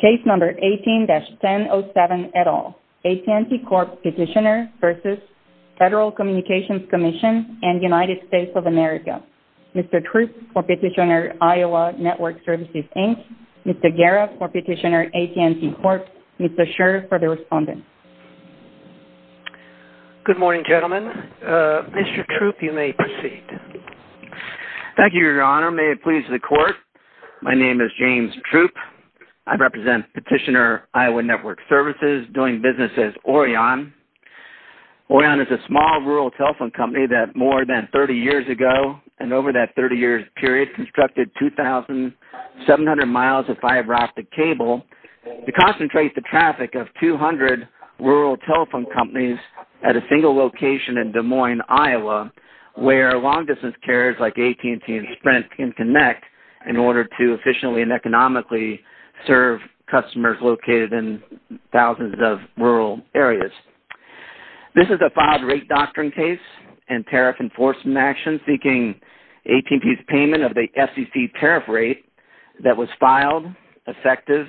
Case No. 18-1007, et al., AT&T Corp. petitioner v. Federal Communications Commission and United States of America. Mr. Troop for petitioner, Iowa Network Services, Inc. Mr. Garrett for petitioner, AT&T Corp. Mr. Scherr for the respondent. Good morning, gentlemen. Mr. Troop, you may proceed. Thank you, Your Honor. May it please the Court. My name is James Troop. I represent petitioner, Iowa Network Services, doing business as Orion. Orion is a small rural telephone company that more than 30 years ago and over that 30-year period constructed 2,700 miles of fiber optic cable to concentrate the traffic of 200 rural telephone companies at a single location in Des Moines, Iowa, where long-distance carriers like AT&T and Sprint can connect in order to efficiently and economically serve customers located in thousands of rural areas. This is a filed rate doctrine case and tariff enforcement action seeking AT&T's payment of the FCC tariff rate that was filed, effective,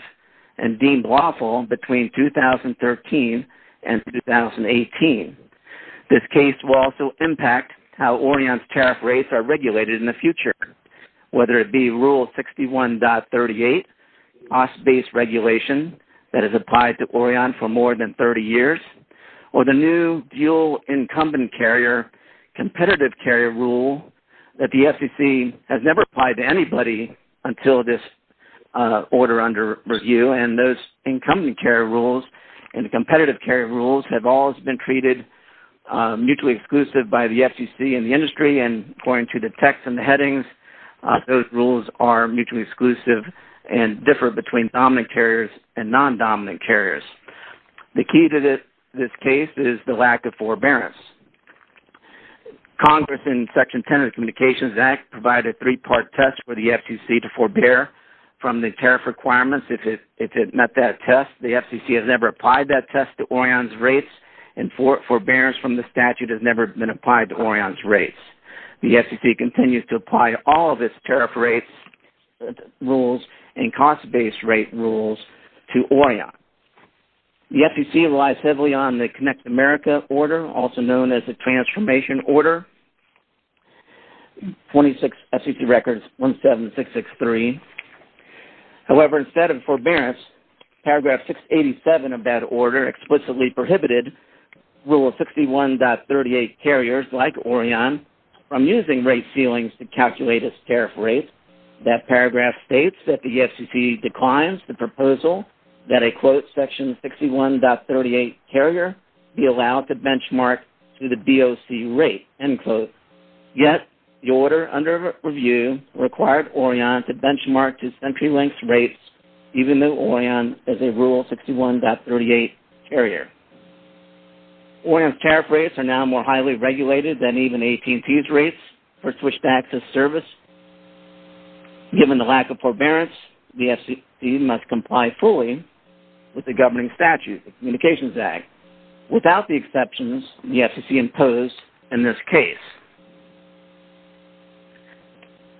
and deemed lawful between 2013 and 2018. This case will also impact how Orion's tariff rates are regulated in the future, whether it be Rule 61.38, cost-based regulation that has applied to Orion for more than 30 years, or the new dual incumbent carrier competitive carrier rule that the FCC has never applied to anybody until this order under review. Those incumbent carrier rules and the competitive carrier rules have always been treated mutually exclusive by the FCC and the industry. According to the text in the headings, those rules are mutually exclusive and differ between dominant carriers and non-dominant carriers. The key to this case is the lack of forbearance. Congress, in Section 10 of the Communications Act, provided a three-part test for the FCC to forbear from the tariff requirements if it met that test. The FCC has never applied that test to Orion's rates, and forbearance from the statute has never been applied to Orion's rates. The FCC continues to apply all of its tariff rates rules and cost-based rate rules to Orion. The FCC relies heavily on the Connect America order, also known as the Transformation Order, 26 FCC records, 17663. However, instead of forbearance, Paragraph 687 of that order explicitly prohibited Rule 61.38 carriers like Orion from using rate ceilings to calculate its tariff rates. That paragraph states that the FCC declines the proposal that a, quote, Section 61.38 carrier be allowed to benchmark to the BOC rate, end quote. Yet, the order under review required Orion to benchmark to century-length rates, even though Orion is a Rule 61.38 carrier. Orion's tariff rates are now more highly regulated than even AT&T's rates for switched-access service. Given the lack of forbearance, the FCC must comply fully with the governing statute, the Communications Act, without the exceptions the FCC imposed in this case.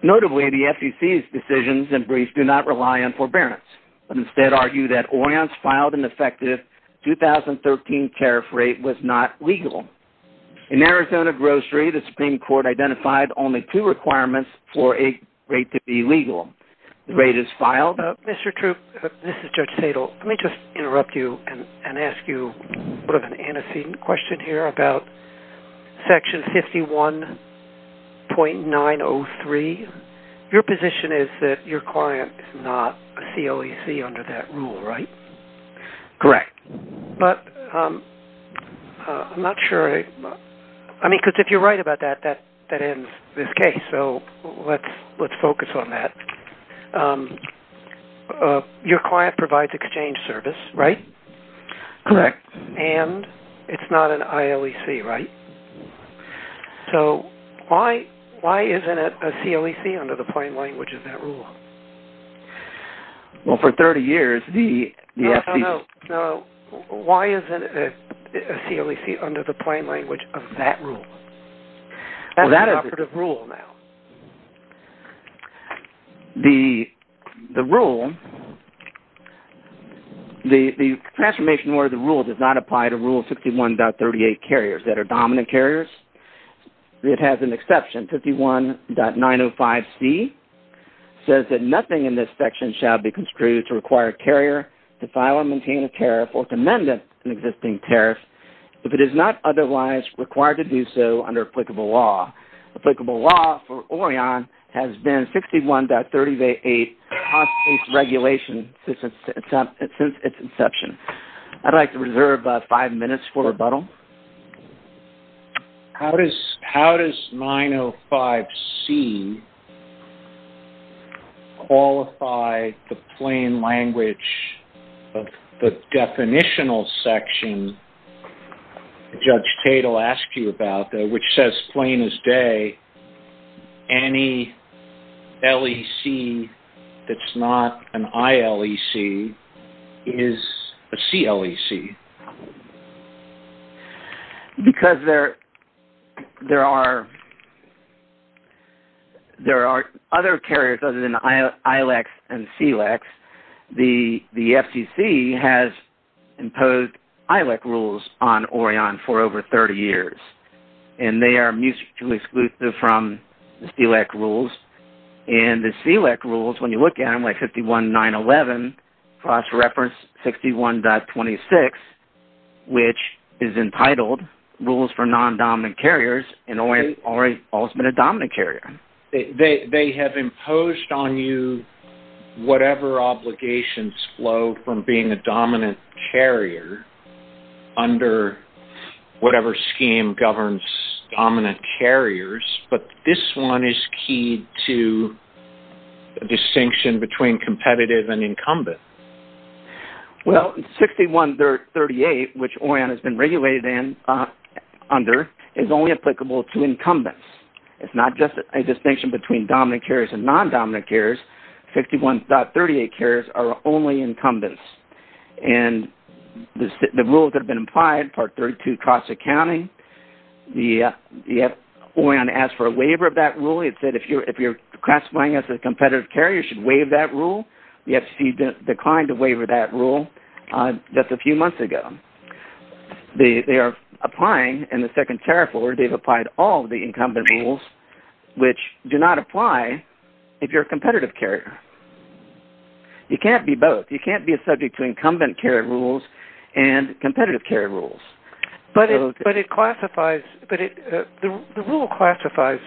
Notably, the FCC's decisions and briefs do not rely on forbearance, but instead argue that Orion's filed and effective 2013 tariff rate was not legal. In Arizona grocery, the Supreme Court identified only two requirements for a rate to be legal. The rate is filed. Mr. Troop, this is Judge Sadle. Let me just interrupt you and ask you an antecedent question here about Section 51.903. Your position is that your client is not a COEC under that rule, right? Correct. But I'm not sure. I mean, because if you're right about that, that ends this case, so let's focus on that. Your client provides exchange service, right? Correct. And it's not an ILEC, right? So why isn't it a COEC under the plain language of that rule? Well, for 30 years, the FCC... No, no. Why isn't it a COEC under the plain language of that rule? That's an operative rule now. The rule, the transformation order of the rule does not apply to Rule 61.38, carriers that are dominant carriers. It has an exception. 51.905C says that nothing in this section shall be construed to require a carrier to file or maintain a tariff or to amend an existing tariff if it is not otherwise required to do so under applicable law. Applicable law for Orion has been 61.38, cost-based regulation since its inception. I'd like to reserve five minutes for rebuttal. How does 905C qualify the plain language of the definitional section Judge Tatel asked you about, which says plain as day, any LEC that's not an ILEC is a CLEC? Because there are other carriers other than ILECs and CLECs, the FCC has imposed ILEC rules on Orion for over 30 years. And they are mutually exclusive from the CLEC rules. And the CLEC rules, when you look at them, like 51.911, cross-reference 61.26, which is entitled Rules for Non-Dominant Carriers, and Orion has always been a dominant carrier. They have imposed on you whatever obligations flow from being a dominant carrier under whatever scheme governs dominant carriers, but this one is keyed to a distinction between competitive and incumbent. Well, 61.38, which Orion has been regulated under, is only applicable to incumbents. It's not just a distinction between dominant carriers and non-dominant carriers. 51.38 carriers are only incumbents. And the rules that have been applied, Part 32, cross-accounting, the FCC has asked for a waiver of that rule. It said if you're classifying as a competitive carrier, you should waive that rule. The FCC declined to waive that rule just a few months ago. They are applying in the second tariff order, they've applied all the incumbent rules, which do not apply if you're a competitive carrier. You can't be both. You can't be a subject to incumbent carrier rules and competitive carrier rules. But the rule classifies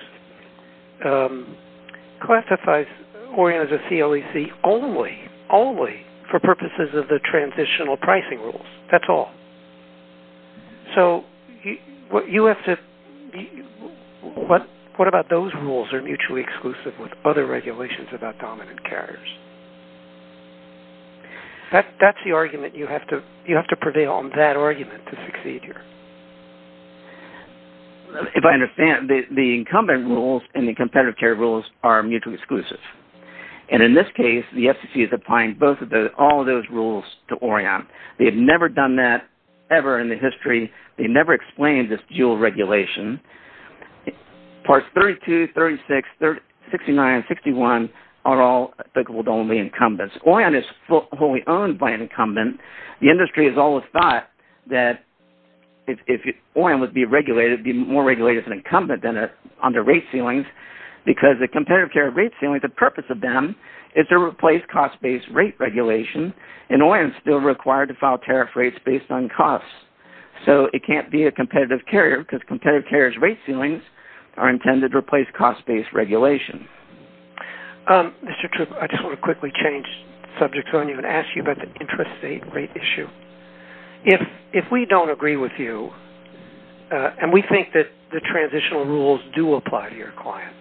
Orion as a CLEC only for purposes of the transitional pricing rules. That's all. So what about those rules are mutually exclusive with other regulations about dominant carriers? That's the argument you have to prevail on, that argument to succeed here. If I understand, the incumbent rules and the competitive carrier rules are mutually exclusive. And in this case, the FCC is applying all of those rules to Orion. They have never done that ever in the history. They never explained this dual regulation. Parts 32, 36, 69, 61 are all applicable to only incumbents. Orion is wholly owned by an incumbent. The industry has always thought that if Orion would be regulated, be more regulated as an incumbent than on the rate ceilings. Because the competitive carrier rate ceilings, the purpose of them is to replace cost-based rate regulation. And Orion is still required to file tariff rates based on costs. So it can't be a competitive carrier because competitive carrier's rate ceilings are intended to replace cost-based regulation. Mr. Troop, I just want to quickly change subjects on you and ask you about the interest rate issue. If we don't agree with you, and we think that the transitional rules do apply to your client,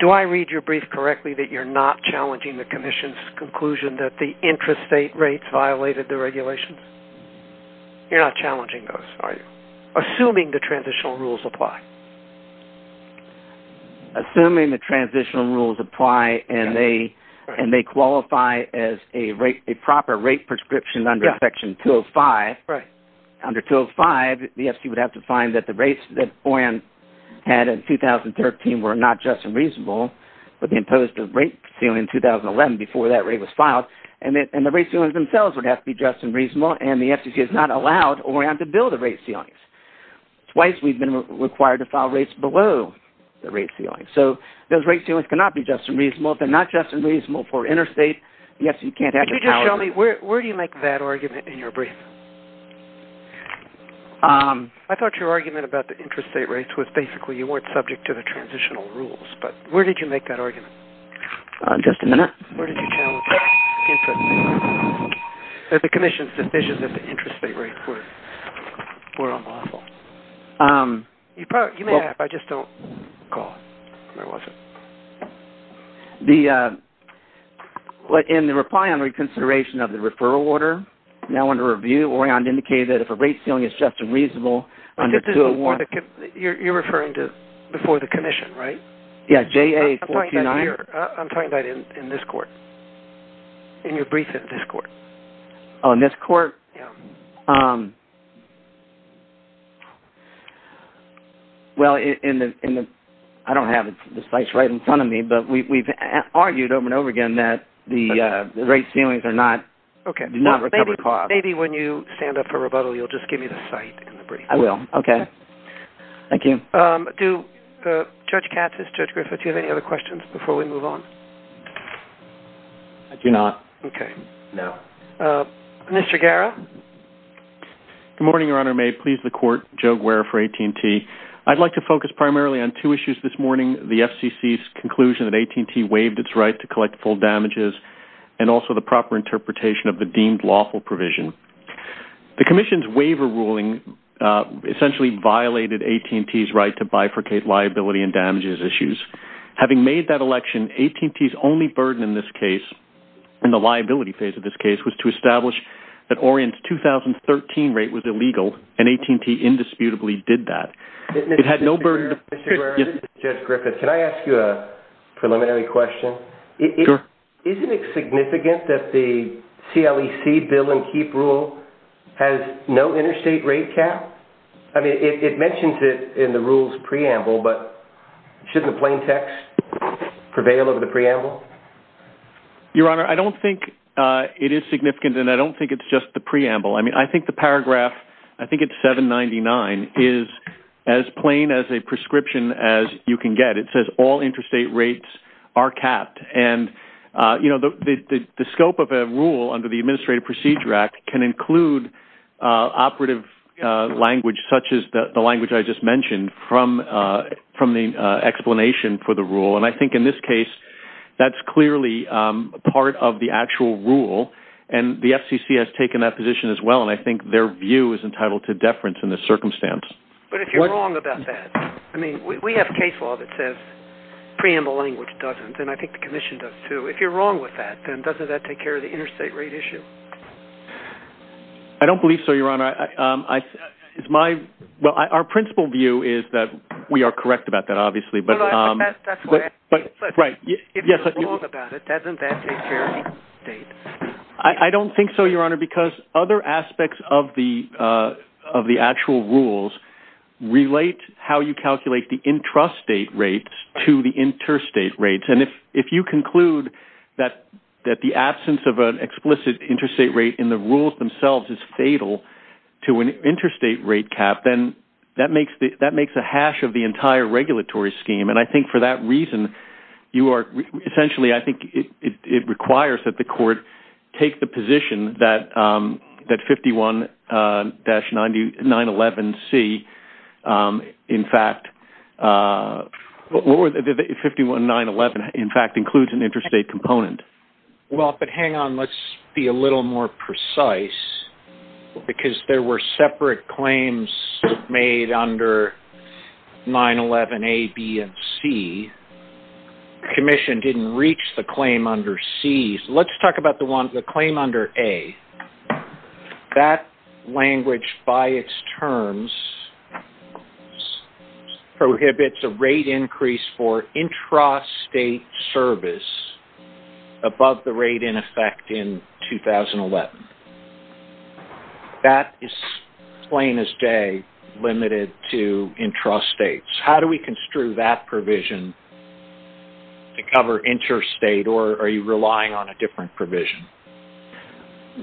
do I read your brief correctly that you're not challenging the commission's conclusion that the interest rate rates violated the regulations? You're not challenging those, are you? Assuming the transitional rules apply. Assuming the transitional rules apply and they qualify as a proper rate prescription under Section 205, under 205, the FCC would have to find that the rates that Orion had in 2013 were not just and reasonable, but they imposed a rate ceiling in 2011 before that rate was filed. And the rate ceilings themselves would have to be just and reasonable, and the FCC has not allowed Orion to build the rate ceilings. Twice we've been required to file rates below the rate ceilings. So those rate ceilings cannot be just and reasonable. If they're not just and reasonable for interstate, the FCC can't have the power. Tell me, where do you make that argument in your brief? I thought your argument about the interest rate rates was basically you weren't subject to the transitional rules. But where did you make that argument? Just a minute. Where did you challenge the commission's decision that the interest rate rates were unlawful? You may have. I just don't recall. Where was it? In the reply on reconsideration of the referral order, now under review, Orion indicated that if a rate ceiling is just and reasonable under 201- You're referring to before the commission, right? Yeah, JA-429. I'm talking about in this court, in your brief in this court. Oh, in this court? Yeah. Well, I don't have the slides right in front of me, but we've argued over and over again that the rate ceilings do not recover costs. Maybe when you stand up for rebuttal, you'll just give me the site in the brief. I will. Okay. Thank you. Judge Katz, Judge Griffith, do you have any other questions before we move on? I do not. Okay. No. Mr. Guerra? Good morning, Your Honor. May it please the court, Joe Guerra for AT&T. I'd like to focus primarily on two issues this morning, the FCC's conclusion that AT&T waived its right to collect full damages and also the proper interpretation of the deemed lawful provision. The commission's waiver ruling essentially violated AT&T's right to bifurcate liability and damages issues. Having made that election, AT&T's only burden in this case, in the liability phase of this case, was to establish that Orient's 2013 rate was illegal, and AT&T indisputably did that. It had no burden to... Mr. Guerra, Judge Griffith, can I ask you a preliminary question? Sure. Isn't it significant that the CLEC bill and HEAP rule has no interstate rate cap? I mean, it mentions it in the rule's preamble, but shouldn't the plain text prevail over the preamble? Your Honor, I don't think it is significant, and I don't think it's just the preamble. I mean, I think the paragraph, I think it's 799, is as plain as a prescription as you can get. It says all interstate rates are capped. The scope of a rule under the Administrative Procedure Act can include operative language, such as the language I just mentioned, from the explanation for the rule, and I think in this case that's clearly part of the actual rule, and the FCC has taken that position as well, and I think their view is entitled to deference in this circumstance. But if you're wrong about that, I mean, we have case law that says preamble language doesn't, and I think the Commission does, too. If you're wrong with that, then doesn't that take care of the interstate rate issue? I don't believe so, Your Honor. Well, our principal view is that we are correct about that, obviously, but... No, no, I think that's where... Right. If you're wrong about it, doesn't that take care of the interstate? I don't think so, Your Honor, because other aspects of the actual rules relate how you calculate the intrastate rates to the interstate rates, and if you conclude that the absence of an explicit interstate rate in the rules themselves is fatal to an interstate rate cap, then that makes a hash of the entire regulatory scheme, and I think for that reason, you are... Essentially, I think it requires that the Court take the position that 51-911C, in fact... 51-911, in fact, includes an interstate component. Well, but hang on. Let's be a little more precise, because there were separate claims made under 911A, B, and C. The Commission didn't reach the claim under C. Let's talk about the one, the claim under A. That language, by its terms, prohibits a rate increase for intrastate service above the rate in effect in 2011. That is, plain as day, limited to intrastates. How do we construe that provision to cover interstate, or are you relying on a different provision?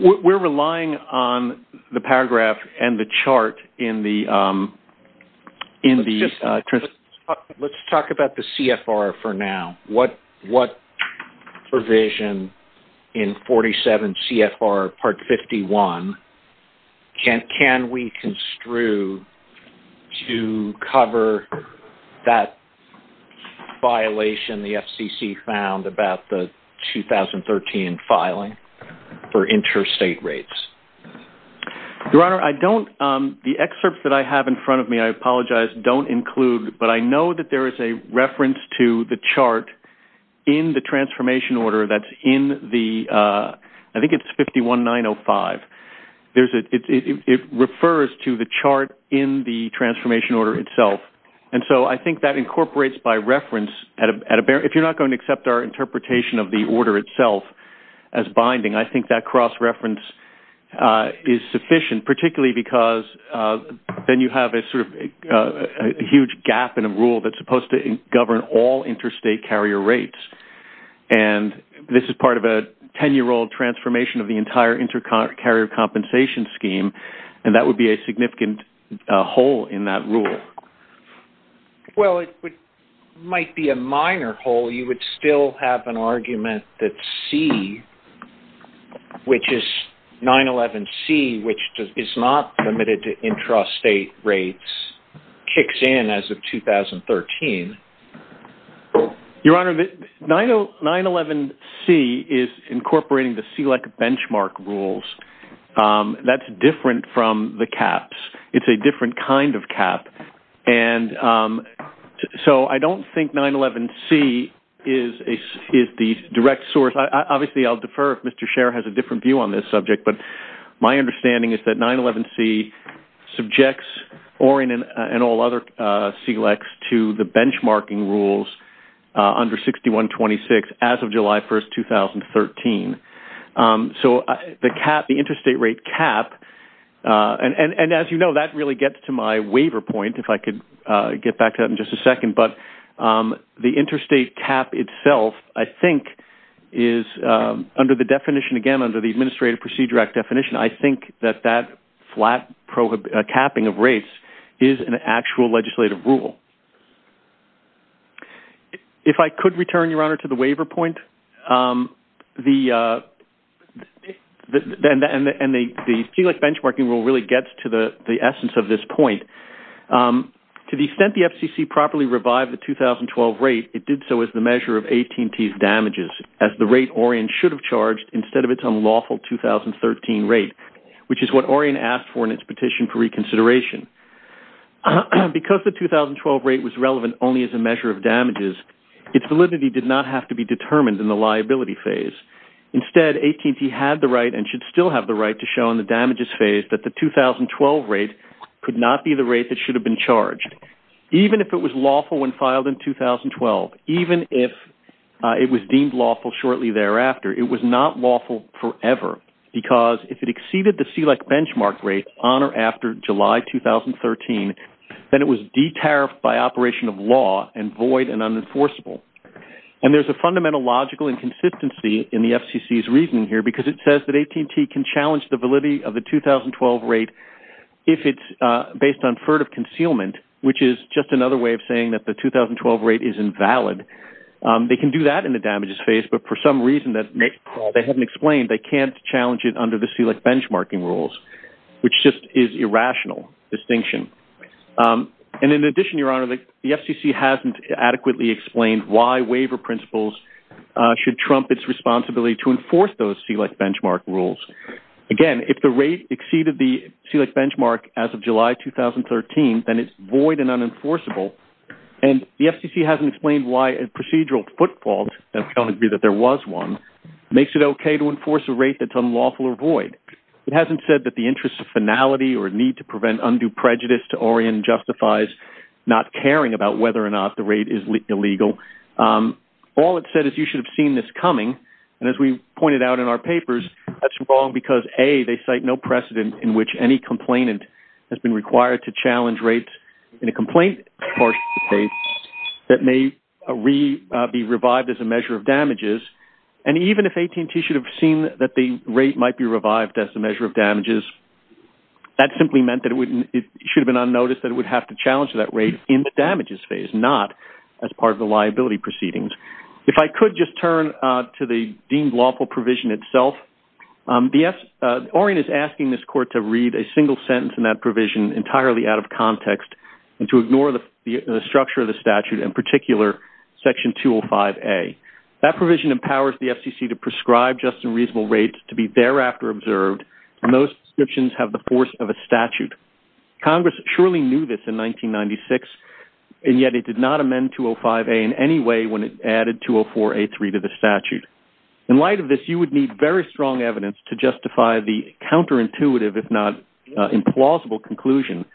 We're relying on the paragraph and the chart in the... Let's talk about the CFR for now. What provision in 47 CFR Part 51 can we construe to cover that violation the FCC found about the 2013 filing for interstate rates? Your Honor, I don't... The excerpts that I have in front of me, I apologize, don't include, but I know that there is a reference to the chart in the transformation order that's in the... I think it's 51-905. It refers to the chart in the transformation order itself, and so I think that incorporates, by reference, if you're not going to accept our interpretation of the order itself as binding, I think that cross-reference is sufficient, particularly because then you have a huge gap in a rule that's supposed to govern all interstate carrier rates. And this is part of a 10-year-old transformation of the entire intercarrier compensation scheme, and that would be a significant hole in that rule. Well, it might be a minor hole. You would still have an argument that C, which is 911C, which is not limited to intrastate rates, kicks in as of 2013. Your Honor, 911C is incorporating the SELEC benchmark rules. That's different from the CAHPS. It's a different kind of CAHPS, and so I don't think 911C is the direct source. Obviously, I'll defer if Mr. Scherer has a different view on this subject, but my understanding is that 911C subjects Oren and all other SELECs to the benchmarking rules under 6126 as of July 1, 2013. So the cap, the interstate rate cap, and as you know, that really gets to my waiver point, if I could get back to that in just a second, but the interstate cap itself, I think, is under the definition, again, under the Administrative Procedure Act definition, I think that that flat capping of rates is an actual legislative rule. If I could return, Your Honor, to the waiver point, and the SELEC benchmarking rule really gets to the essence of this point, to the extent the FCC properly revived the 2012 rate, it did so as the measure of AT&T's damages, as the rate Oren should have charged instead of its unlawful 2013 rate, which is what Oren asked for in its petition for reconsideration. Because the 2012 rate was relevant only as a measure of damages, its validity did not have to be determined in the liability phase. Instead, AT&T had the right and should still have the right to show in the damages phase that the 2012 rate could not be the rate that should have been charged. Even if it was lawful when filed in 2012, even if it was deemed lawful shortly thereafter, it was not lawful forever. Because if it exceeded the SELEC benchmark rate on or after July 2013, then it was de-tariffed by operation of law and void and unenforceable. And there's a fundamental logical inconsistency in the FCC's reasoning here because it says that AT&T can challenge the validity of the 2012 rate if it's based on furtive concealment, which is just another way of saying that the 2012 rate is invalid. They can do that in the damages phase, but for some reason that they haven't explained, they can't challenge it under the SELEC benchmarking rules, which just is irrational distinction. And in addition, Your Honor, the FCC hasn't adequately explained why waiver principles should trump its responsibility to enforce those SELEC benchmark rules. Again, if the rate exceeded the SELEC benchmark as of July 2013, then it's void and unenforceable. And the FCC hasn't explained why a procedural footfall, and I don't agree that there was one, makes it okay to enforce a rate that's unlawful or void. It hasn't said that the interest of finality or need to prevent undue prejudice to orient justifies not caring about whether or not the rate is illegal. All it said is you should have seen this coming. And as we pointed out in our papers, that's wrong because, A, they cite no precedent in which any complainant has been required to challenge rates in a complaint-parsing phase that may be revived as a measure of damages. And even if AT&T should have seen that the rate might be revived as a measure of damages, that simply meant that it should have been unnoticed that it would have to challenge that rate in the damages phase, not as part of the liability proceedings. If I could just turn to the deemed lawful provision itself. Orrin is asking this court to read a single sentence in that provision entirely out of context and to ignore the structure of the statute, in particular Section 205A. That provision empowers the FCC to prescribe just and reasonable rates to be thereafter observed, and those descriptions have the force of a statute. Congress surely knew this in 1996, and yet it did not amend 205A in any way when it added 204A3 to the statute. In light of this, you would need very strong evidence to justify the counterintuitive, if not implausible, conclusion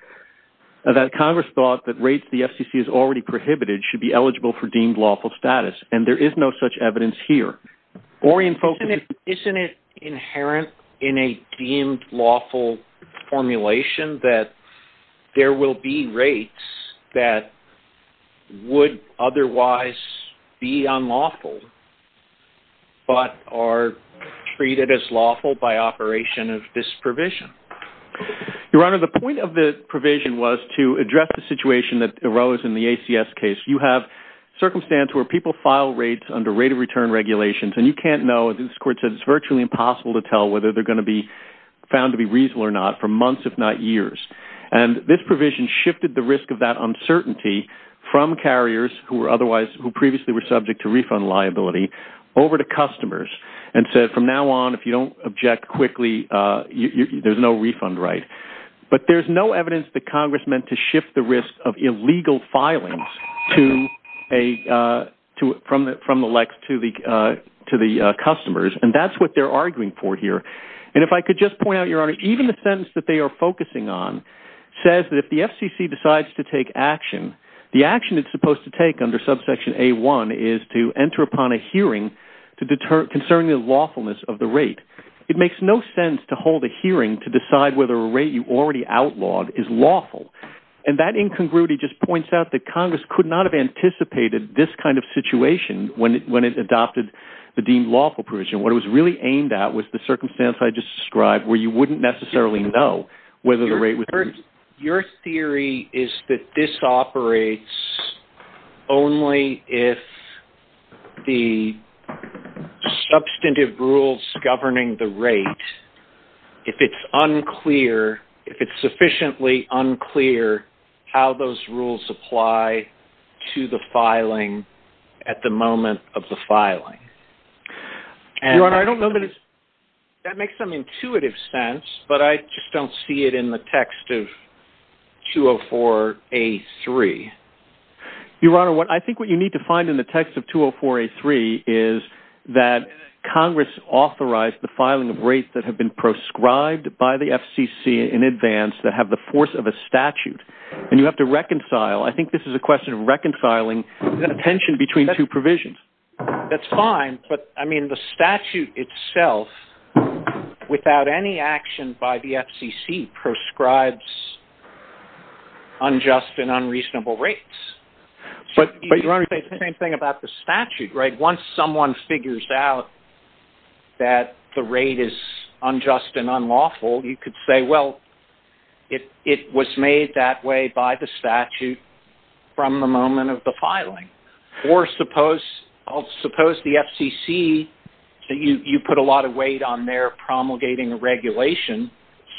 that Congress thought that rates the FCC has already prohibited should be eligible for deemed lawful status, and there is no such evidence here. Orrin focuses... Isn't it inherent in a deemed lawful formulation that there will be rates that would otherwise be unlawful but are treated as lawful by operation of this provision? Your Honor, the point of the provision was to address the situation that arose in the ACS case. You have circumstances where people file rates under rate-of-return regulations, and you can't know, as this court said, it's virtually impossible to tell whether they're going to be found to be reasonable or not for months, if not years. And this provision shifted the risk of that uncertainty from carriers who previously were subject to refund liability over to customers, and said, from now on, if you don't object quickly, there's no refund right. But there's no evidence that Congress meant to shift the risk of illegal filings from the likes to the customers, and that's what they're arguing for here. And if I could just point out, Your Honor, even the sentence that they are focusing on says that if the FCC decides to take action, the action it's supposed to take under subsection A-1 is to enter upon a hearing concerning the lawfulness of the rate. It makes no sense to hold a hearing to decide whether a rate you already outlawed is lawful. And that incongruity just points out that Congress could not have anticipated this kind of situation when it adopted the deemed lawful provision. What it was really aimed at was the circumstance I just described, where you wouldn't necessarily know whether the rate was... Your theory is that this operates only if the substantive rules governing the rate, if it's unclear, if it's sufficiently unclear how those rules apply to the filing at the moment of the filing. Your Honor, I don't know that... That makes some intuitive sense, but I just don't see it in the text of 204-A-3. Your Honor, I think what you need to find in the text of 204-A-3 is that Congress authorized the filing of rates that have been proscribed by the FCC in advance that have the force of a statute, and you have to reconcile. I think this is a question of reconciling the tension between two provisions. That's fine, but, I mean, the statute itself, without any action by the FCC, proscribes unjust and unreasonable rates. But, Your Honor... It's the same thing about the statute, right? Once someone figures out that the rate is unjust and unlawful, you could say, well, it was made that way by the statute from the moment of the filing. Or suppose the FCC, you put a lot of weight on their promulgating regulation,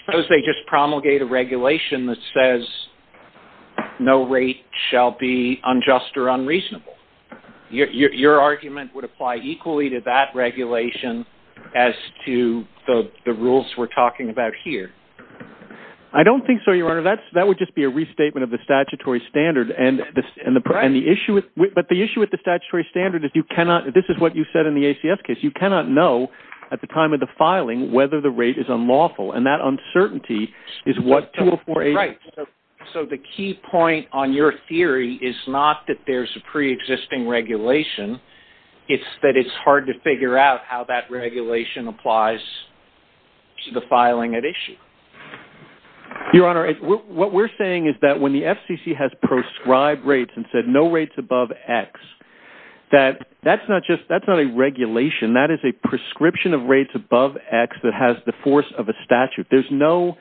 suppose they just promulgate a regulation that says no rate shall be unjust or unreasonable. Your argument would apply equally to that regulation as to the rules we're talking about here. I don't think so, Your Honor. That would just be a restatement of the statutory standard. But the issue with the statutory standard is you cannot, this is what you said in the ACF case, you cannot know at the time of the filing whether the rate is unlawful. And that uncertainty is what 2048... Right. So the key point on your theory is not that there's a pre-existing regulation, it's that it's hard to figure out how that regulation applies to the filing at issue. Your Honor, what we're saying is that when the FCC has proscribed rates and said no rates above X, that's not just, that's not a regulation, that is a prescription of rates above X that has the force of a statute. There's no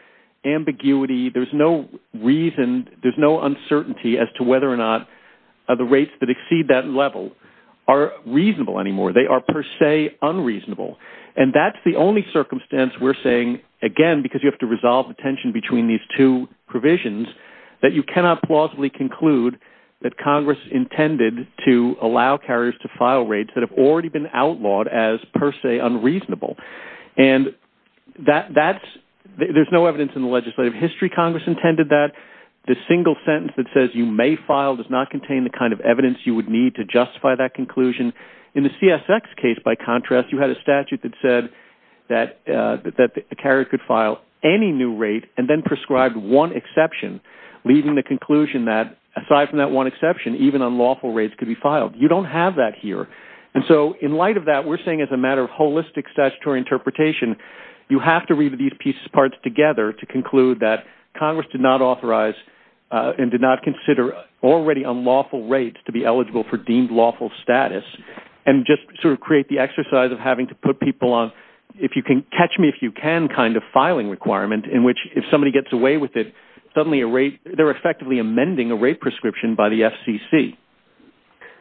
ambiguity, there's no reason, there's no uncertainty as to whether or not the rates that exceed that level are reasonable anymore. They are per se unreasonable. And that's the only circumstance we're saying, again, because you have to resolve the tension between these two provisions, that you cannot plausibly conclude that Congress intended to allow carriers to file rates that have already been outlawed as per se unreasonable. And that's... There's no evidence in the legislative history Congress intended that. The single sentence that says you may file does not contain the kind of evidence you would need to justify that conclusion. In the CSX case, by contrast, you had a statute that said that the carrier could file any new rate and then proscribed one exception, leaving the conclusion that, aside from that one exception, even unlawful rates could be filed. You don't have that here. And so in light of that, we're saying as a matter of holistic statutory interpretation, you have to read these pieces of parts together to conclude that Congress did not authorize and did not consider already unlawful rates to be eligible for deemed lawful status and just sort of create the exercise of having to put people on if-you-can-catch-me-if-you-can kind of filing requirement in which if somebody gets away with it, suddenly a rate... They're effectively amending a rate prescription by the FCC.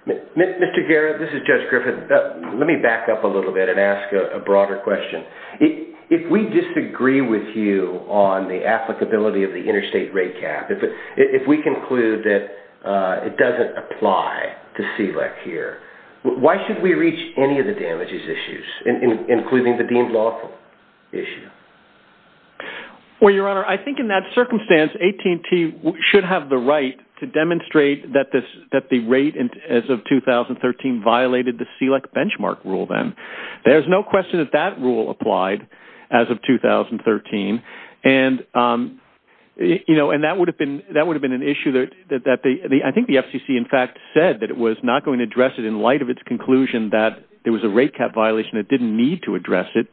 Mr. Garrett, this is Judge Griffith. Let me back up a little bit and ask a broader question. If we disagree with you on the applicability of the interstate rate cap, if we conclude that it doesn't apply to CLEC here, why should we reach any of the damages issues, including the deemed lawful issue? Well, Your Honor, I think in that circumstance, AT&T should have the right to demonstrate that the rate as of 2013 violated the CLEC benchmark rule then. There's no question that that rule applied as of 2013, and that would have been an issue that... I think the FCC, in fact, said that it was not going to address it in light of its conclusion that there was a rate cap violation that didn't need to address it,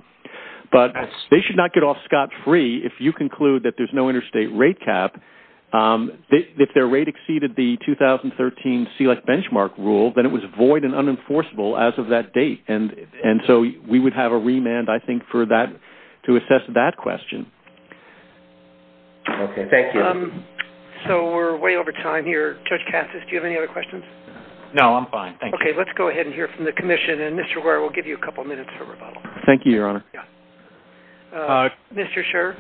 but they should not get off scot-free if you conclude that there's no interstate rate cap. If their rate exceeded the 2013 CLEC benchmark rule, then it was void and unenforceable as of that date, and so we would have a remand, I think, to assess that question. Okay, thank you. So we're way over time here. Judge Cassis, do you have any other questions? No, I'm fine, thank you. Okay, let's go ahead and hear from the Commission, and Mr. Ware, we'll give you a couple minutes for rebuttal. Thank you, Your Honor. Mr. Scherr?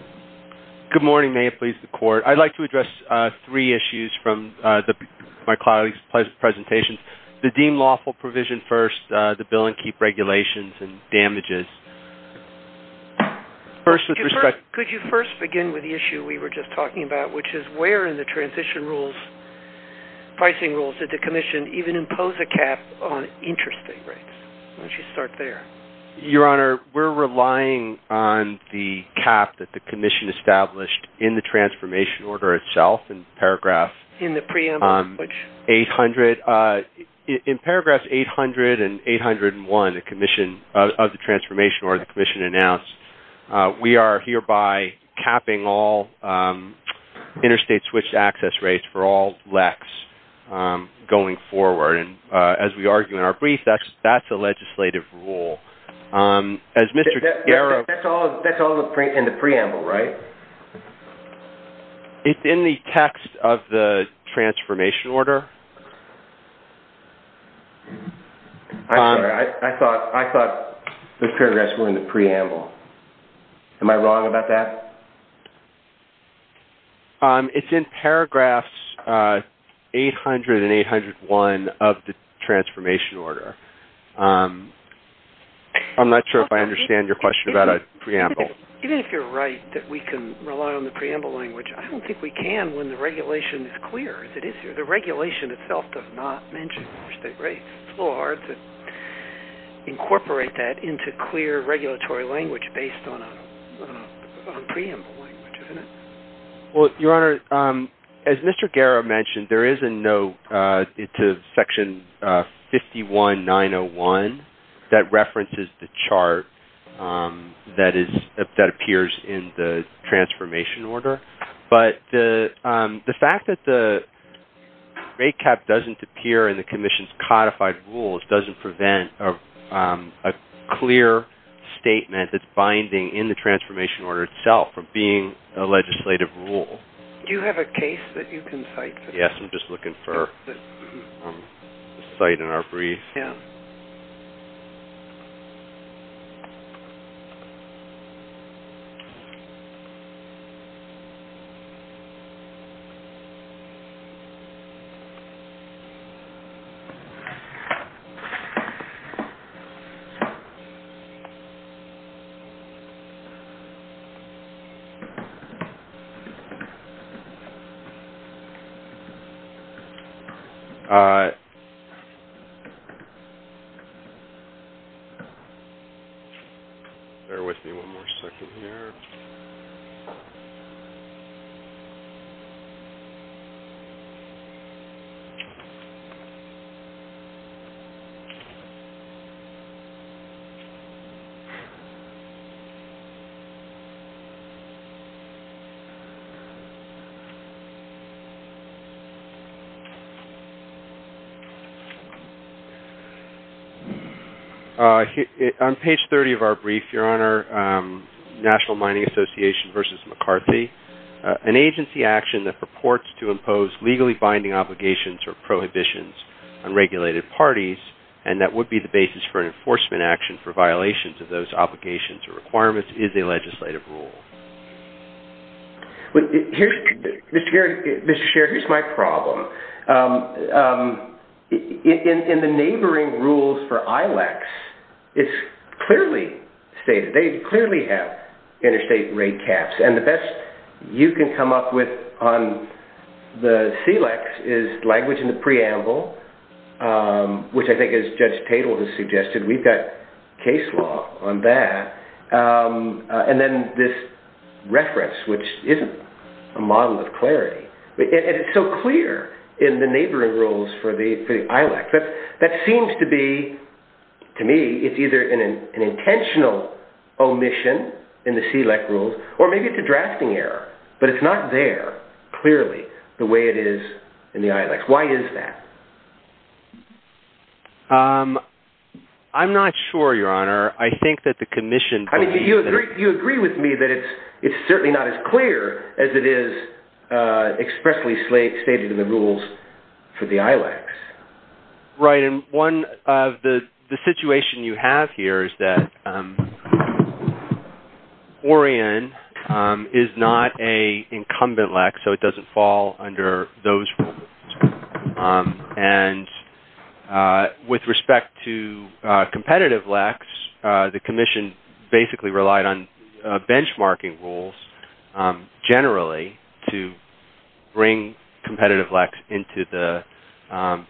Good morning. May it please the Court. I'd like to address three issues from my colleagues' presentations. The deemed lawful provision first, the bill and keep regulations and damages. First, with respect... Could you first begin with the issue we were just talking about, which is where in the transition rules, pricing rules, did the Commission even impose a cap on interstate rates? Why don't you start there. Your Honor, we're relying on the cap that the Commission established in the transformation order itself. In the preamble? In paragraphs 800 and 801 of the transformation order the Commission announced, we are hereby capping all interstate switched access rates for all LECs going forward. As we argue in our brief, that's a legislative rule. That's all in the preamble, right? It's in the text of the transformation order. I thought those paragraphs were in the preamble. Am I wrong about that? It's in paragraphs 800 and 801 of the transformation order. I'm not sure if I understand your question about a preamble. Even if you're right that we can rely on the preamble language, I don't think we can when the regulation is clear as it is here. The regulation itself does not mention interstate rates. It's a little hard to incorporate that into clear regulatory language based on preamble language, isn't it? Your Honor, as Mr. Guerra mentioned, there is a note to section 51901 that references the chart that appears in the transformation order. But the fact that the rate cap doesn't appear in the Commission's codified rules doesn't prevent a clear statement that's binding in the transformation order itself from being a legislative rule. Do you have a case that you can cite? Yes, I'm just looking for a cite in our brief. All right. Bear with me one more second here. On page 30 of our brief, Your Honor, National Mining Association v. McCarthy, an agency action that purports to impose legally binding obligations or prohibitions on regulated parties and that would be the basis for an enforcement action for violations of those obligations or requirements is a legislative rule. Mr. Scherer, here's my problem. In the neighboring rules for ILEX, it's clearly stated. They clearly have interstate rate caps. And the best you can come up with on the SELEX is language in the preamble, which I think as Judge Tatel has suggested, we've got case law on that. And then this reference, which isn't a model of clarity. And it's so clear in the neighboring rules for the ILEX. That seems to be, to me, it's either an intentional omission in the SELEX rules or maybe it's a drafting error. But it's not there clearly the way it is in the ILEX. Why is that? I'm not sure, Your Honor. I think that the commission believes that. You agree with me that it's certainly not as clear as it is expressly stated in the rules for the ILEX. Right. And one of the situations you have here is that Orion is not an incumbent LEX, so it doesn't fall under those rules. And with respect to competitive LEX, the commission basically relied on benchmarking rules, generally, to bring competitive LEX into the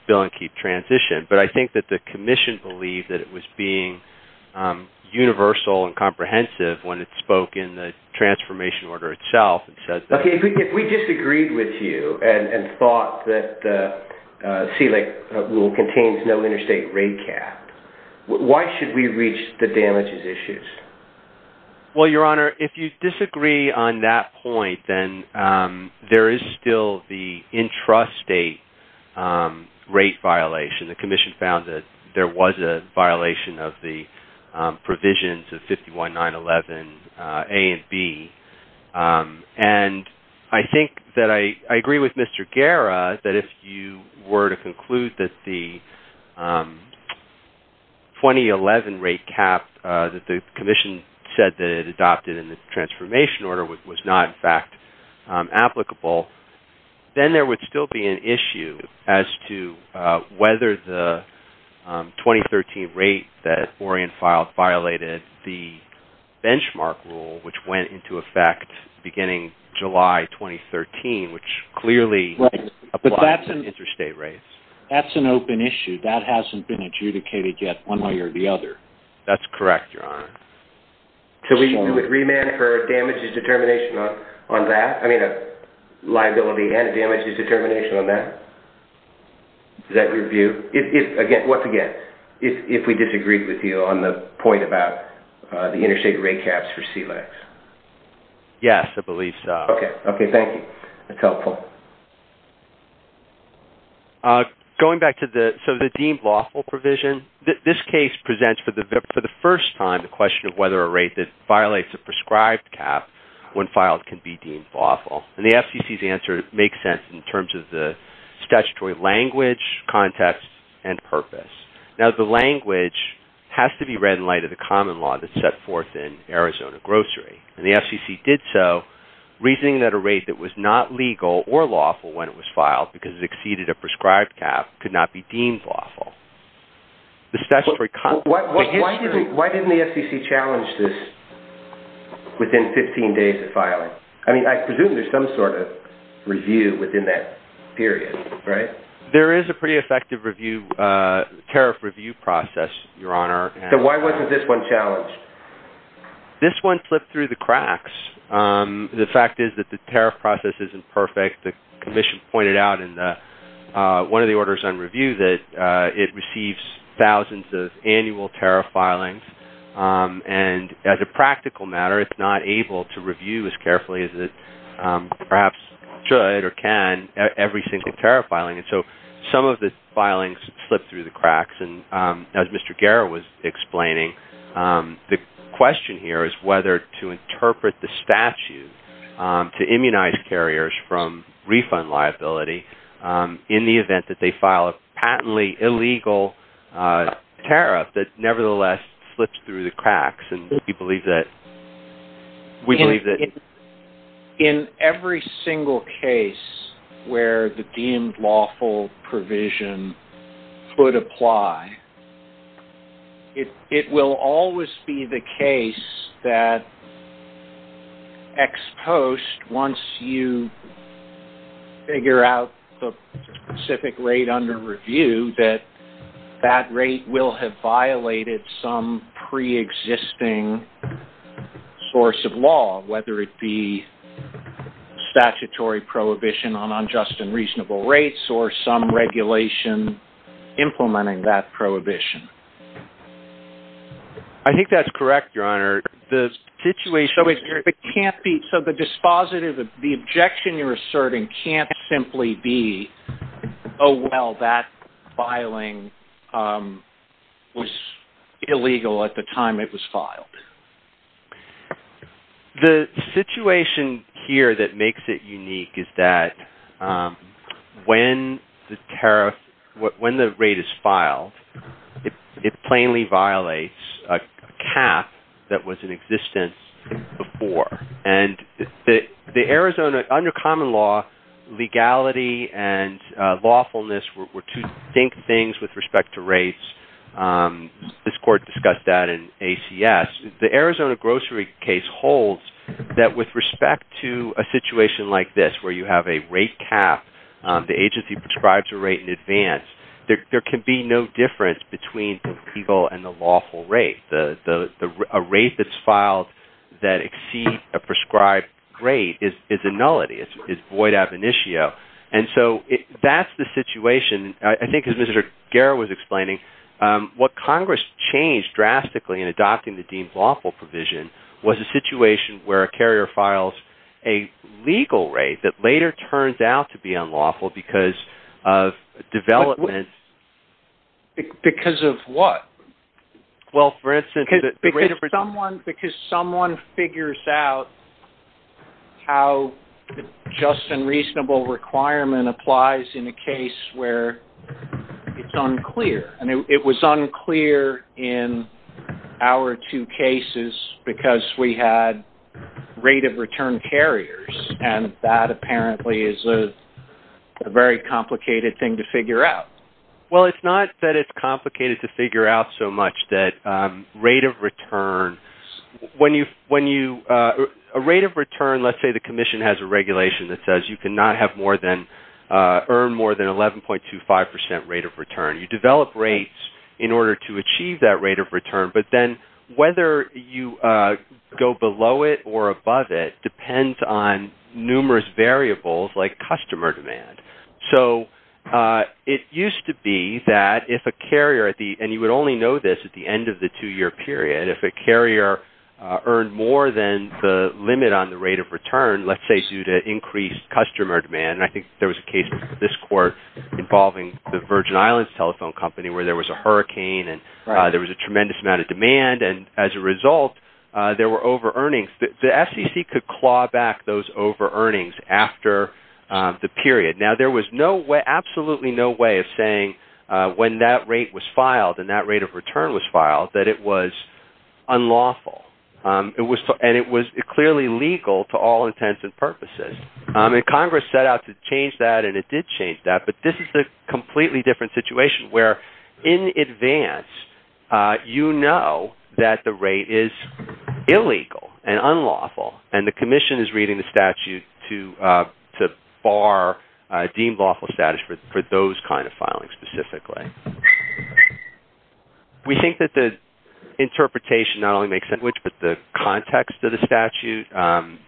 bill and keep transition. But I think that the commission believed that it was being universal and comprehensive when it spoke in the transformation order itself. Okay. If we disagreed with you and thought that the SELEX rule contains no interstate rate cap, why should we reach the damages issues? Well, Your Honor, if you disagree on that point, then there is still the intrastate rate violation. The commission found that there was a violation of the provisions of 51911A and B. And I think that I agree with Mr. Guerra that if you were to conclude that the 2011 rate cap that the commission said that it adopted in the transformation order was not, in fact, applicable, then there would still be an issue as to whether the 2013 rate that Orion filed violated the benchmark rule, which went into effect beginning July 2013, which clearly applies to interstate rates. That's an open issue. That hasn't been adjudicated yet one way or the other. That's correct, Your Honor. So we would remand for damages determination on that? I mean, liability and damages determination on that? Is that your view? Once again, if we disagreed with you on the point about the interstate rate caps for SELEX. Yes, I believe so. Okay. Thank you. That's helpful. Going back to the deemed lawful provision, this case presents for the first time the question of whether a rate that violates a prescribed cap when filed can be deemed lawful. And the FCC's answer makes sense in terms of the statutory language, context, and purpose. Now, the language has to be read in light of the common law that's set forth in Arizona grocery. And the FCC did so reasoning that a rate that was not legal or lawful when it was filed because it exceeded a prescribed cap could not be deemed lawful. Why didn't the FCC challenge this within 15 days of filing? I mean, I presume there's some sort of review within that period, right? There is a pretty effective tariff review process, Your Honor. So why wasn't this one challenged? This one slipped through the cracks. The fact is that the tariff process isn't perfect. The commission pointed out in one of the orders on review that it receives thousands of annual tariff filings. And as a practical matter, it's not able to review as carefully as it perhaps should or can every single tariff filing. And so some of the filings slipped through the cracks. And as Mr. Guerra was explaining, the question here is whether to interpret the statute to immunize carriers from refund liability in the event that they file a patently illegal tariff that nevertheless slips through the cracks. And we believe that. In every single case where the deemed lawful provision could apply, it will always be the case that ex post, once you figure out the specific rate under review, that that rate will have violated some preexisting source of law, whether it be statutory prohibition on unjust and reasonable rates or some regulation implementing that prohibition. I think that's correct, Your Honor. The situation can't be. So the dispositive, the objection you're asserting can't simply be, Oh, well that filing was illegal at the time it was filed. The situation here that makes it unique is that when the tariff, when the rate is filed, it plainly violates a cap that was in existence before. And the, the Arizona under common law, legality and lawfulness were, were to think things with respect to rates. This court discussed that in ACS, the Arizona grocery case holds that with respect to a situation like this, where you have a rate cap, the agency prescribes a rate in advance. There can be no difference between people and the lawful rate. The, the, a rate that's filed that exceed a prescribed rate is, is a nullity. It's void ab initio. And so that's the situation. I think as Mr. Guerra was explaining what Congress changed drastically in adopting the deemed lawful provision was a situation where a carrier files a legal rate that later turns out to be unlawful because of development. Because of what? Well, for instance, because someone figures out how just and reasonable requirement applies in a case where it's unclear. And it was unclear in our two cases because we had rate of return carriers. And that apparently is a very complicated thing to figure out. Well, it's not that it's complicated to figure out so much that rate of return, when you, when you a rate of return, let's say the commission has a regulation that says you can not have more than earn more than 11.25% rate of return. You develop rates in order to achieve that rate of return, but then whether you go below it or above it depends on numerous variables like customer demand. So it used to be that if a carrier at the, and you would only know this at the end of the two year period, if a carrier earned more than the limit on the rate of return, let's say due to increased customer demand. And I think there was a case, this court involving the Virgin islands telephone company where there was a hurricane and there was a tremendous amount of demand. And as a result, there were over earnings. The sec could claw back those over earnings after the period. Now there was no way, absolutely no way of saying when that rate was filed and that rate of return was filed, that it was unlawful. It was, and it was clearly legal to all intents and purposes. And Congress set out to change that. And it did change that, but this is a completely different situation where in advance you know that the rate is illegal and unlawful. And the commission is reading the statute to, to bar deemed lawful status for, for those kinds of filings specifically. We think that the interpretation not only makes sense, which, but the context of the statute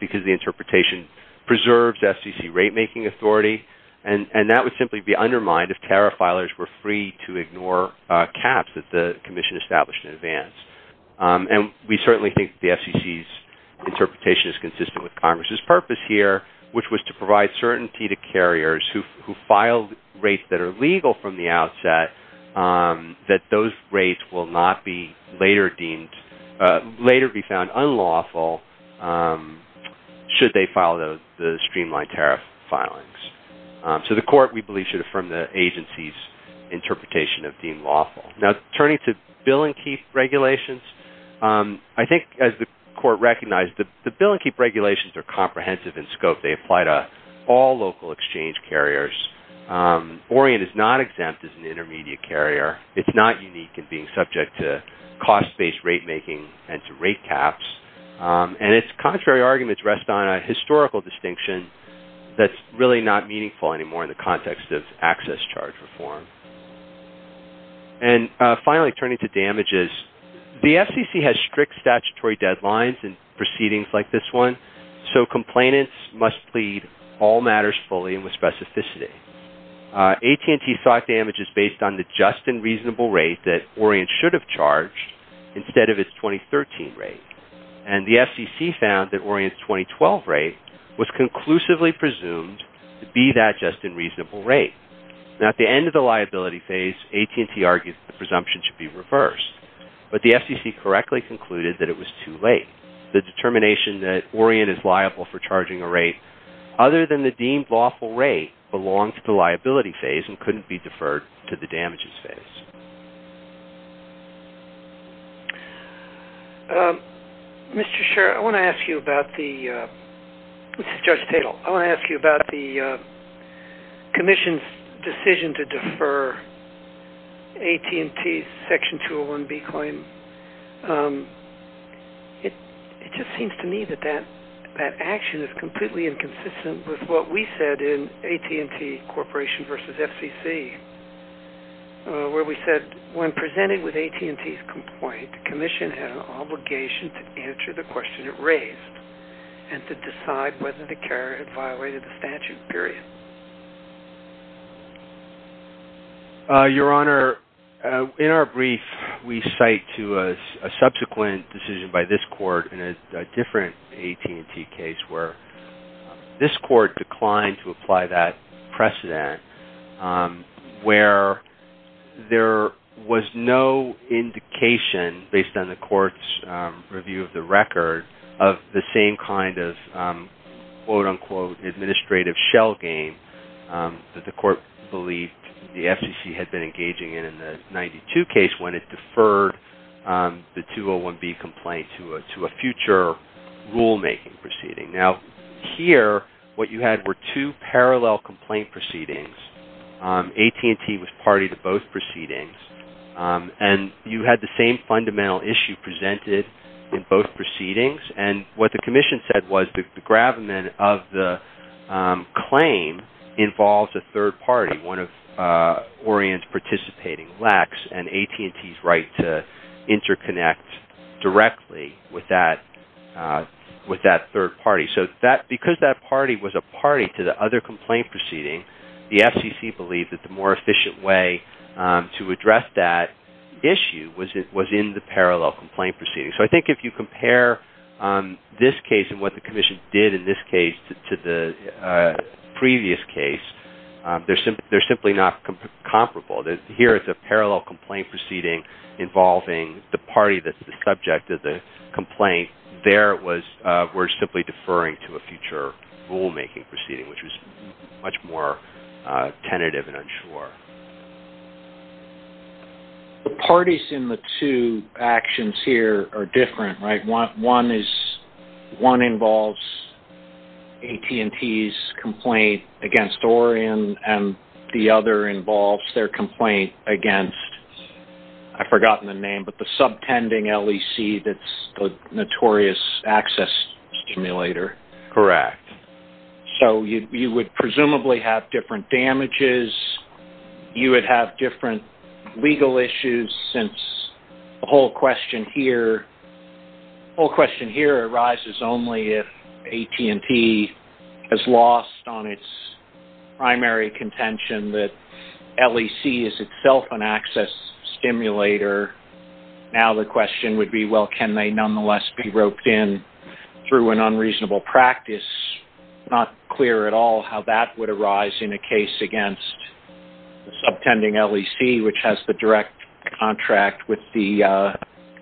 because the interpretation preserves FCC rate-making authority. And that would simply be undermined if tariff filers were free to ignore caps that the commission established in advance. And we certainly think the FCC's interpretation is consistent with Congress's purpose here, which was to provide certainty to carriers who, who filed rates that are legal from the outset that those rates will not be later deemed later be found unlawful. Should they file the, the streamlined tariff filings to the court, we believe should affirm the agency's interpretation of deemed lawful. Now turning to bill and keep regulations. I think as the court recognized the, the bill and keep regulations are comprehensive in scope. They apply to all local exchange carriers. Orient is not exempt as an intermediate carrier. It's not unique in being subject to cost-based rate-making and to rate caps. And it's contrary arguments rest on a historical distinction. That's really not meaningful anymore in the context of access charge reform. And finally, turning to damages, the FCC has strict statutory deadlines and proceedings like this one. So complainants must plead all matters fully and with specificity. AT&T thought damages based on the just and reasonable rate that Orient should have charged instead of its 2013 rate. And the FCC found that Orient's 2012 rate was conclusively presumed to be that just and reasonable rate. Now at the end of the liability phase, AT&T argued the presumption should be reversed, but the FCC correctly concluded that it was too late. The determination that Orient is liable for charging a rate other than the deemed lawful rate belongs to the liability phase and couldn't be deferred to the damages phase. Judge Tatel. I want to ask you about the commission's decision to defer AT&T's Section 201B claim. It just seems to me that that action is completely inconsistent with what we said in AT&T Corporation v. FCC, when presented with AT&T's complaint, the commission had an obligation to answer the question it raised and to decide whether the carrier had violated the statute, period. Your Honor, in our brief, we cite to a subsequent decision by this court in a different AT&T case where this court declined to apply that precedent, where there was no indication, based on the court's review of the record, of the same kind of, quote, unquote, administrative shell game that the court believed the FCC had been engaging in, in the 92 case, when it deferred the 201B complaint to a future rulemaking proceeding. Now, here, what you had were two parallel complaint proceedings. AT&T was party to both proceedings. And you had the same fundamental issue presented in both proceedings. And what the commission said was the gravamen of the claim involves a third party, one of Orian's participating lex, and AT&T's right to interconnect directly with that third party. So because that party was a party to the other complaint proceeding, the FCC believed that the more efficient way to address that issue was in the parallel complaint proceeding. So I think if you compare this case and what the commission did in this case to the previous case, they're simply not comparable. Here it's a parallel complaint proceeding involving the party that's the subject of the complaint. And they were simply deferring to a future rulemaking proceeding, which was much more tentative and unsure. The parties in the two actions here are different, right? One involves AT&T's complaint against Orian, and the other involves their complaint against, I've forgotten the name, but the subtending LEC that's the notorious access stimulator. Correct. So you would presumably have different damages. You would have different legal issues since the whole question here arises only if AT&T has lost on its primary contention that LEC is itself an Now the question would be, well, can they nonetheless be roped in through an unreasonable practice? Not clear at all how that would arise in a case against the subtending LEC, which has the direct contract with the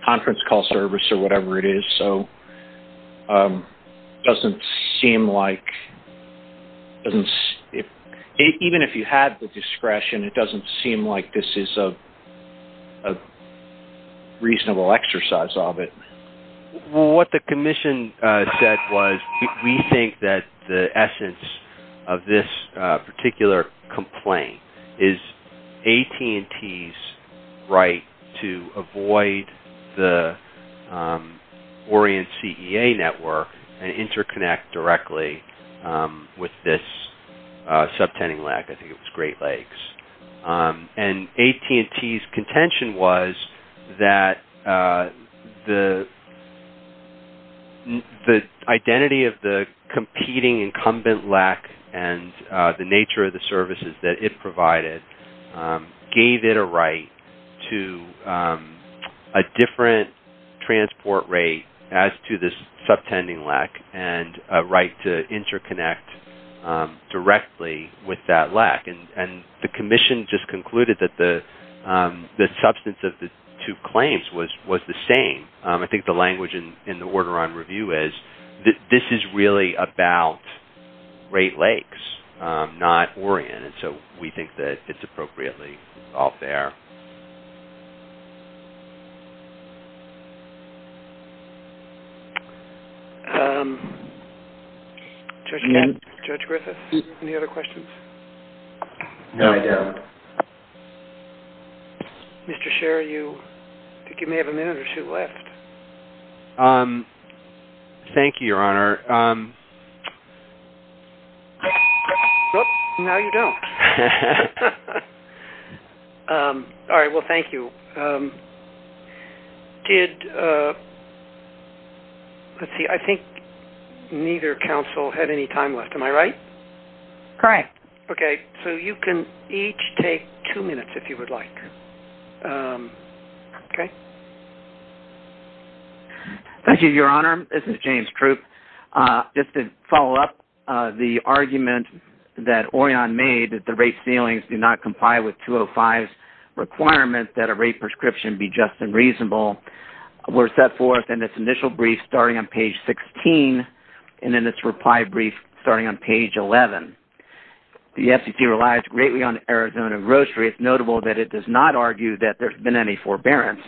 conference call service, or whatever it is. So it doesn't seem like, even if you had the discretion, it doesn't seem like this is a reasonable exercise of it. What the commission said was we think that the essence of this particular complaint is AT&T's right to avoid the Orian CEA network and interconnect directly with this subtending LEC. I think it was Great Lakes. And AT&T's contention was that the identity of the competing incumbent LEC and the nature of the services that it provided gave it a right to a different transport rate as to this subtending LEC and a right to And the commission just concluded that the substance of the two claims was the same. I think the language in the order on review is that this is really about Great Lakes, not Orian. And so we think that it's appropriately all fair. Judge Griffith, any other questions? No, I don't. Mr. Scherer, I think you may have a minute or two left. Thank you, Your Honor. Now you don't. All right, well, thank you. Let's see. I think neither counsel had any time left. Am I right? Correct. Okay. So you can each take two minutes if you would like. Okay. Thank you, Your Honor. This is James Troop. Just to follow up the argument that Orian made that the rate ceilings do not comply with 205's requirement that a rate prescription be just and reasonable, we're set forth in this initial brief starting on page 16 and in this reply brief starting on page 11. The FCC relies greatly on Arizona grocery. It's notable that it does not argue that there's been any forbearance.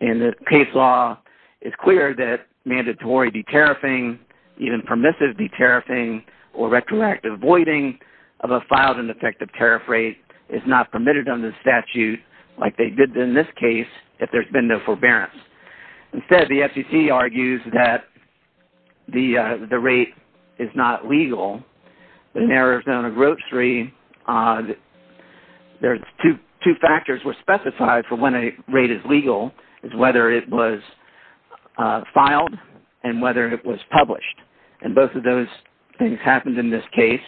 And the case law is clear that mandatory de-tariffing, even permissive de-tariffing or retroactive voiding of a filed and effective tariff rate is not permitted under the statute like they did in this case if there's been no forbearance. Instead, the FCC argues that the rate is not legal. In Arizona grocery, there's two factors were specified for when a rate is legal is whether it was filed and whether it was published. And both of those things happened in this case.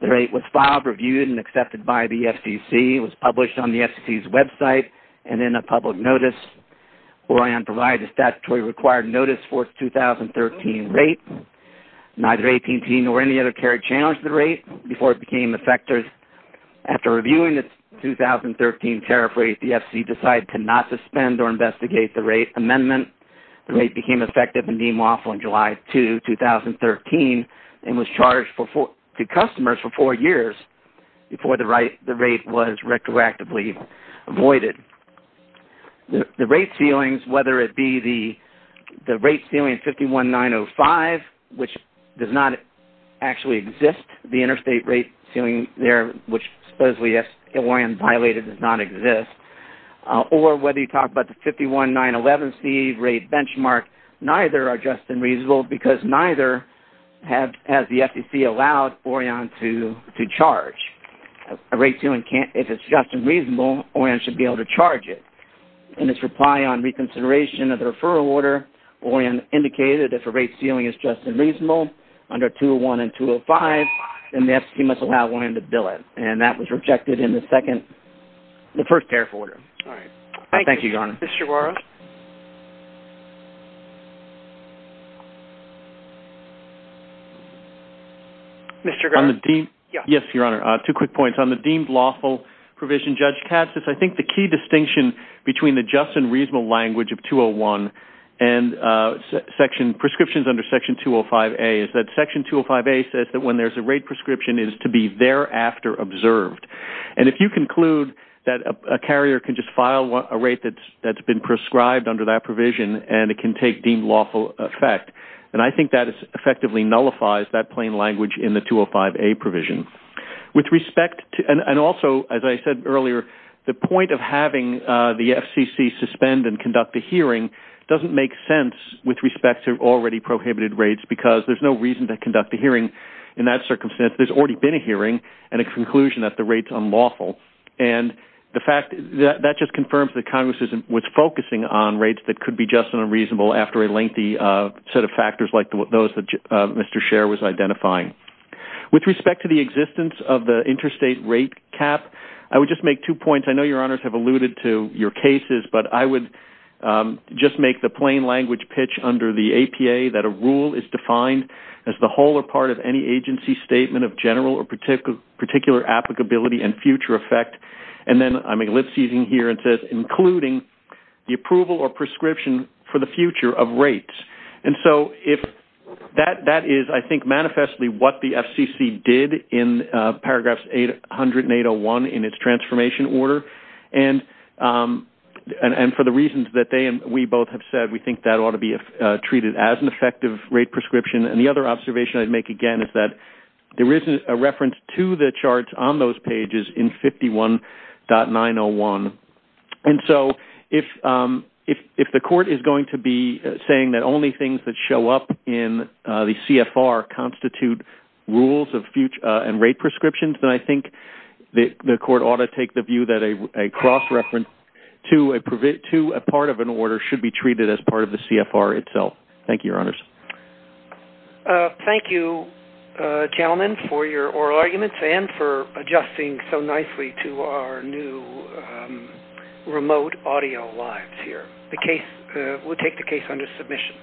The rate was filed, reviewed, and accepted by the FCC. It was published on the FCC's website and in a public notice. Orian provided a statutory required notice for its 2013 rate. Neither AT&T nor any other carrier challenged the rate before it became effective. After reviewing the 2013 tariff rate, the FCC decided to not suspend or investigate the rate amendment. The rate became effective and deemed lawful on July 2, 2013, and was charged to customers for four years before the rate was retroactively voided. The rate ceilings, whether it be the rate ceiling 51-905, which does not actually exist, the interstate rate ceiling there, which supposedly, as Orian violated, does not exist, or whether you talk about the 51-911C rate benchmark, neither are just and reasonable because neither has the FCC allowed Orian to charge. If it's just and reasonable, Orian should be able to charge it. In its reply on reconsideration of the referral order, Orian indicated that the rate ceiling is just and reasonable under 201 and 205, and the FCC must allow Orian to bill it. And that was rejected in the first tariff order. Thank you, Your Honor. Thank you. Mr. Guerra? Mr. Guerra? Yes, Your Honor. Two quick points. On the deemed lawful provision, Judge Katsas, I think the key distinction between the just and reasonable language of prescriptions under Section 205A is that Section 205A says that when there's a rate prescription, it is to be thereafter observed. And if you conclude that a carrier can just file a rate that's been prescribed under that provision and it can take deemed lawful effect, then I think that effectively nullifies that plain language in the 205A provision. And also, as I said earlier, the point of having the FCC suspend and conduct the hearing doesn't make sense with respect to already prohibited rates because there's no reason to conduct a hearing in that circumstance. There's already been a hearing and a conclusion that the rate's unlawful. And the fact that that just confirms that Congress was focusing on rates that could be just and reasonable after a lengthy set of factors like those that Mr. Scherr was identifying. With respect to the existence of the interstate rate cap, I would just make two points. I know Your Honor has alluded to your cases, but I would just make the plain language pitch under the APA that a rule is defined as the whole or part of any agency statement of general or particular applicability and future effect. And then I'm elapsing here and says including the approval or prescription for the future of rates. And so that is, I think, manifestly what the FCC did in paragraphs 800 and 801 in its transformation order. And for the reasons that they and we both have said, we think that ought to be treated as an effective rate prescription. And the other observation I'd make again is that there isn't a reference to the charts on those pages in 51.901. And so if the court is going to be saying that only things that show up in the CFR constitute rules and rate prescriptions, then I think the court ought to take the view that a cross-reference to a part of an order should be treated as part of the CFR itself. Thank you, Your Honors. Thank you, gentlemen, for your oral arguments and for adjusting so nicely to our new remote audio lives here. We'll take the case under submission.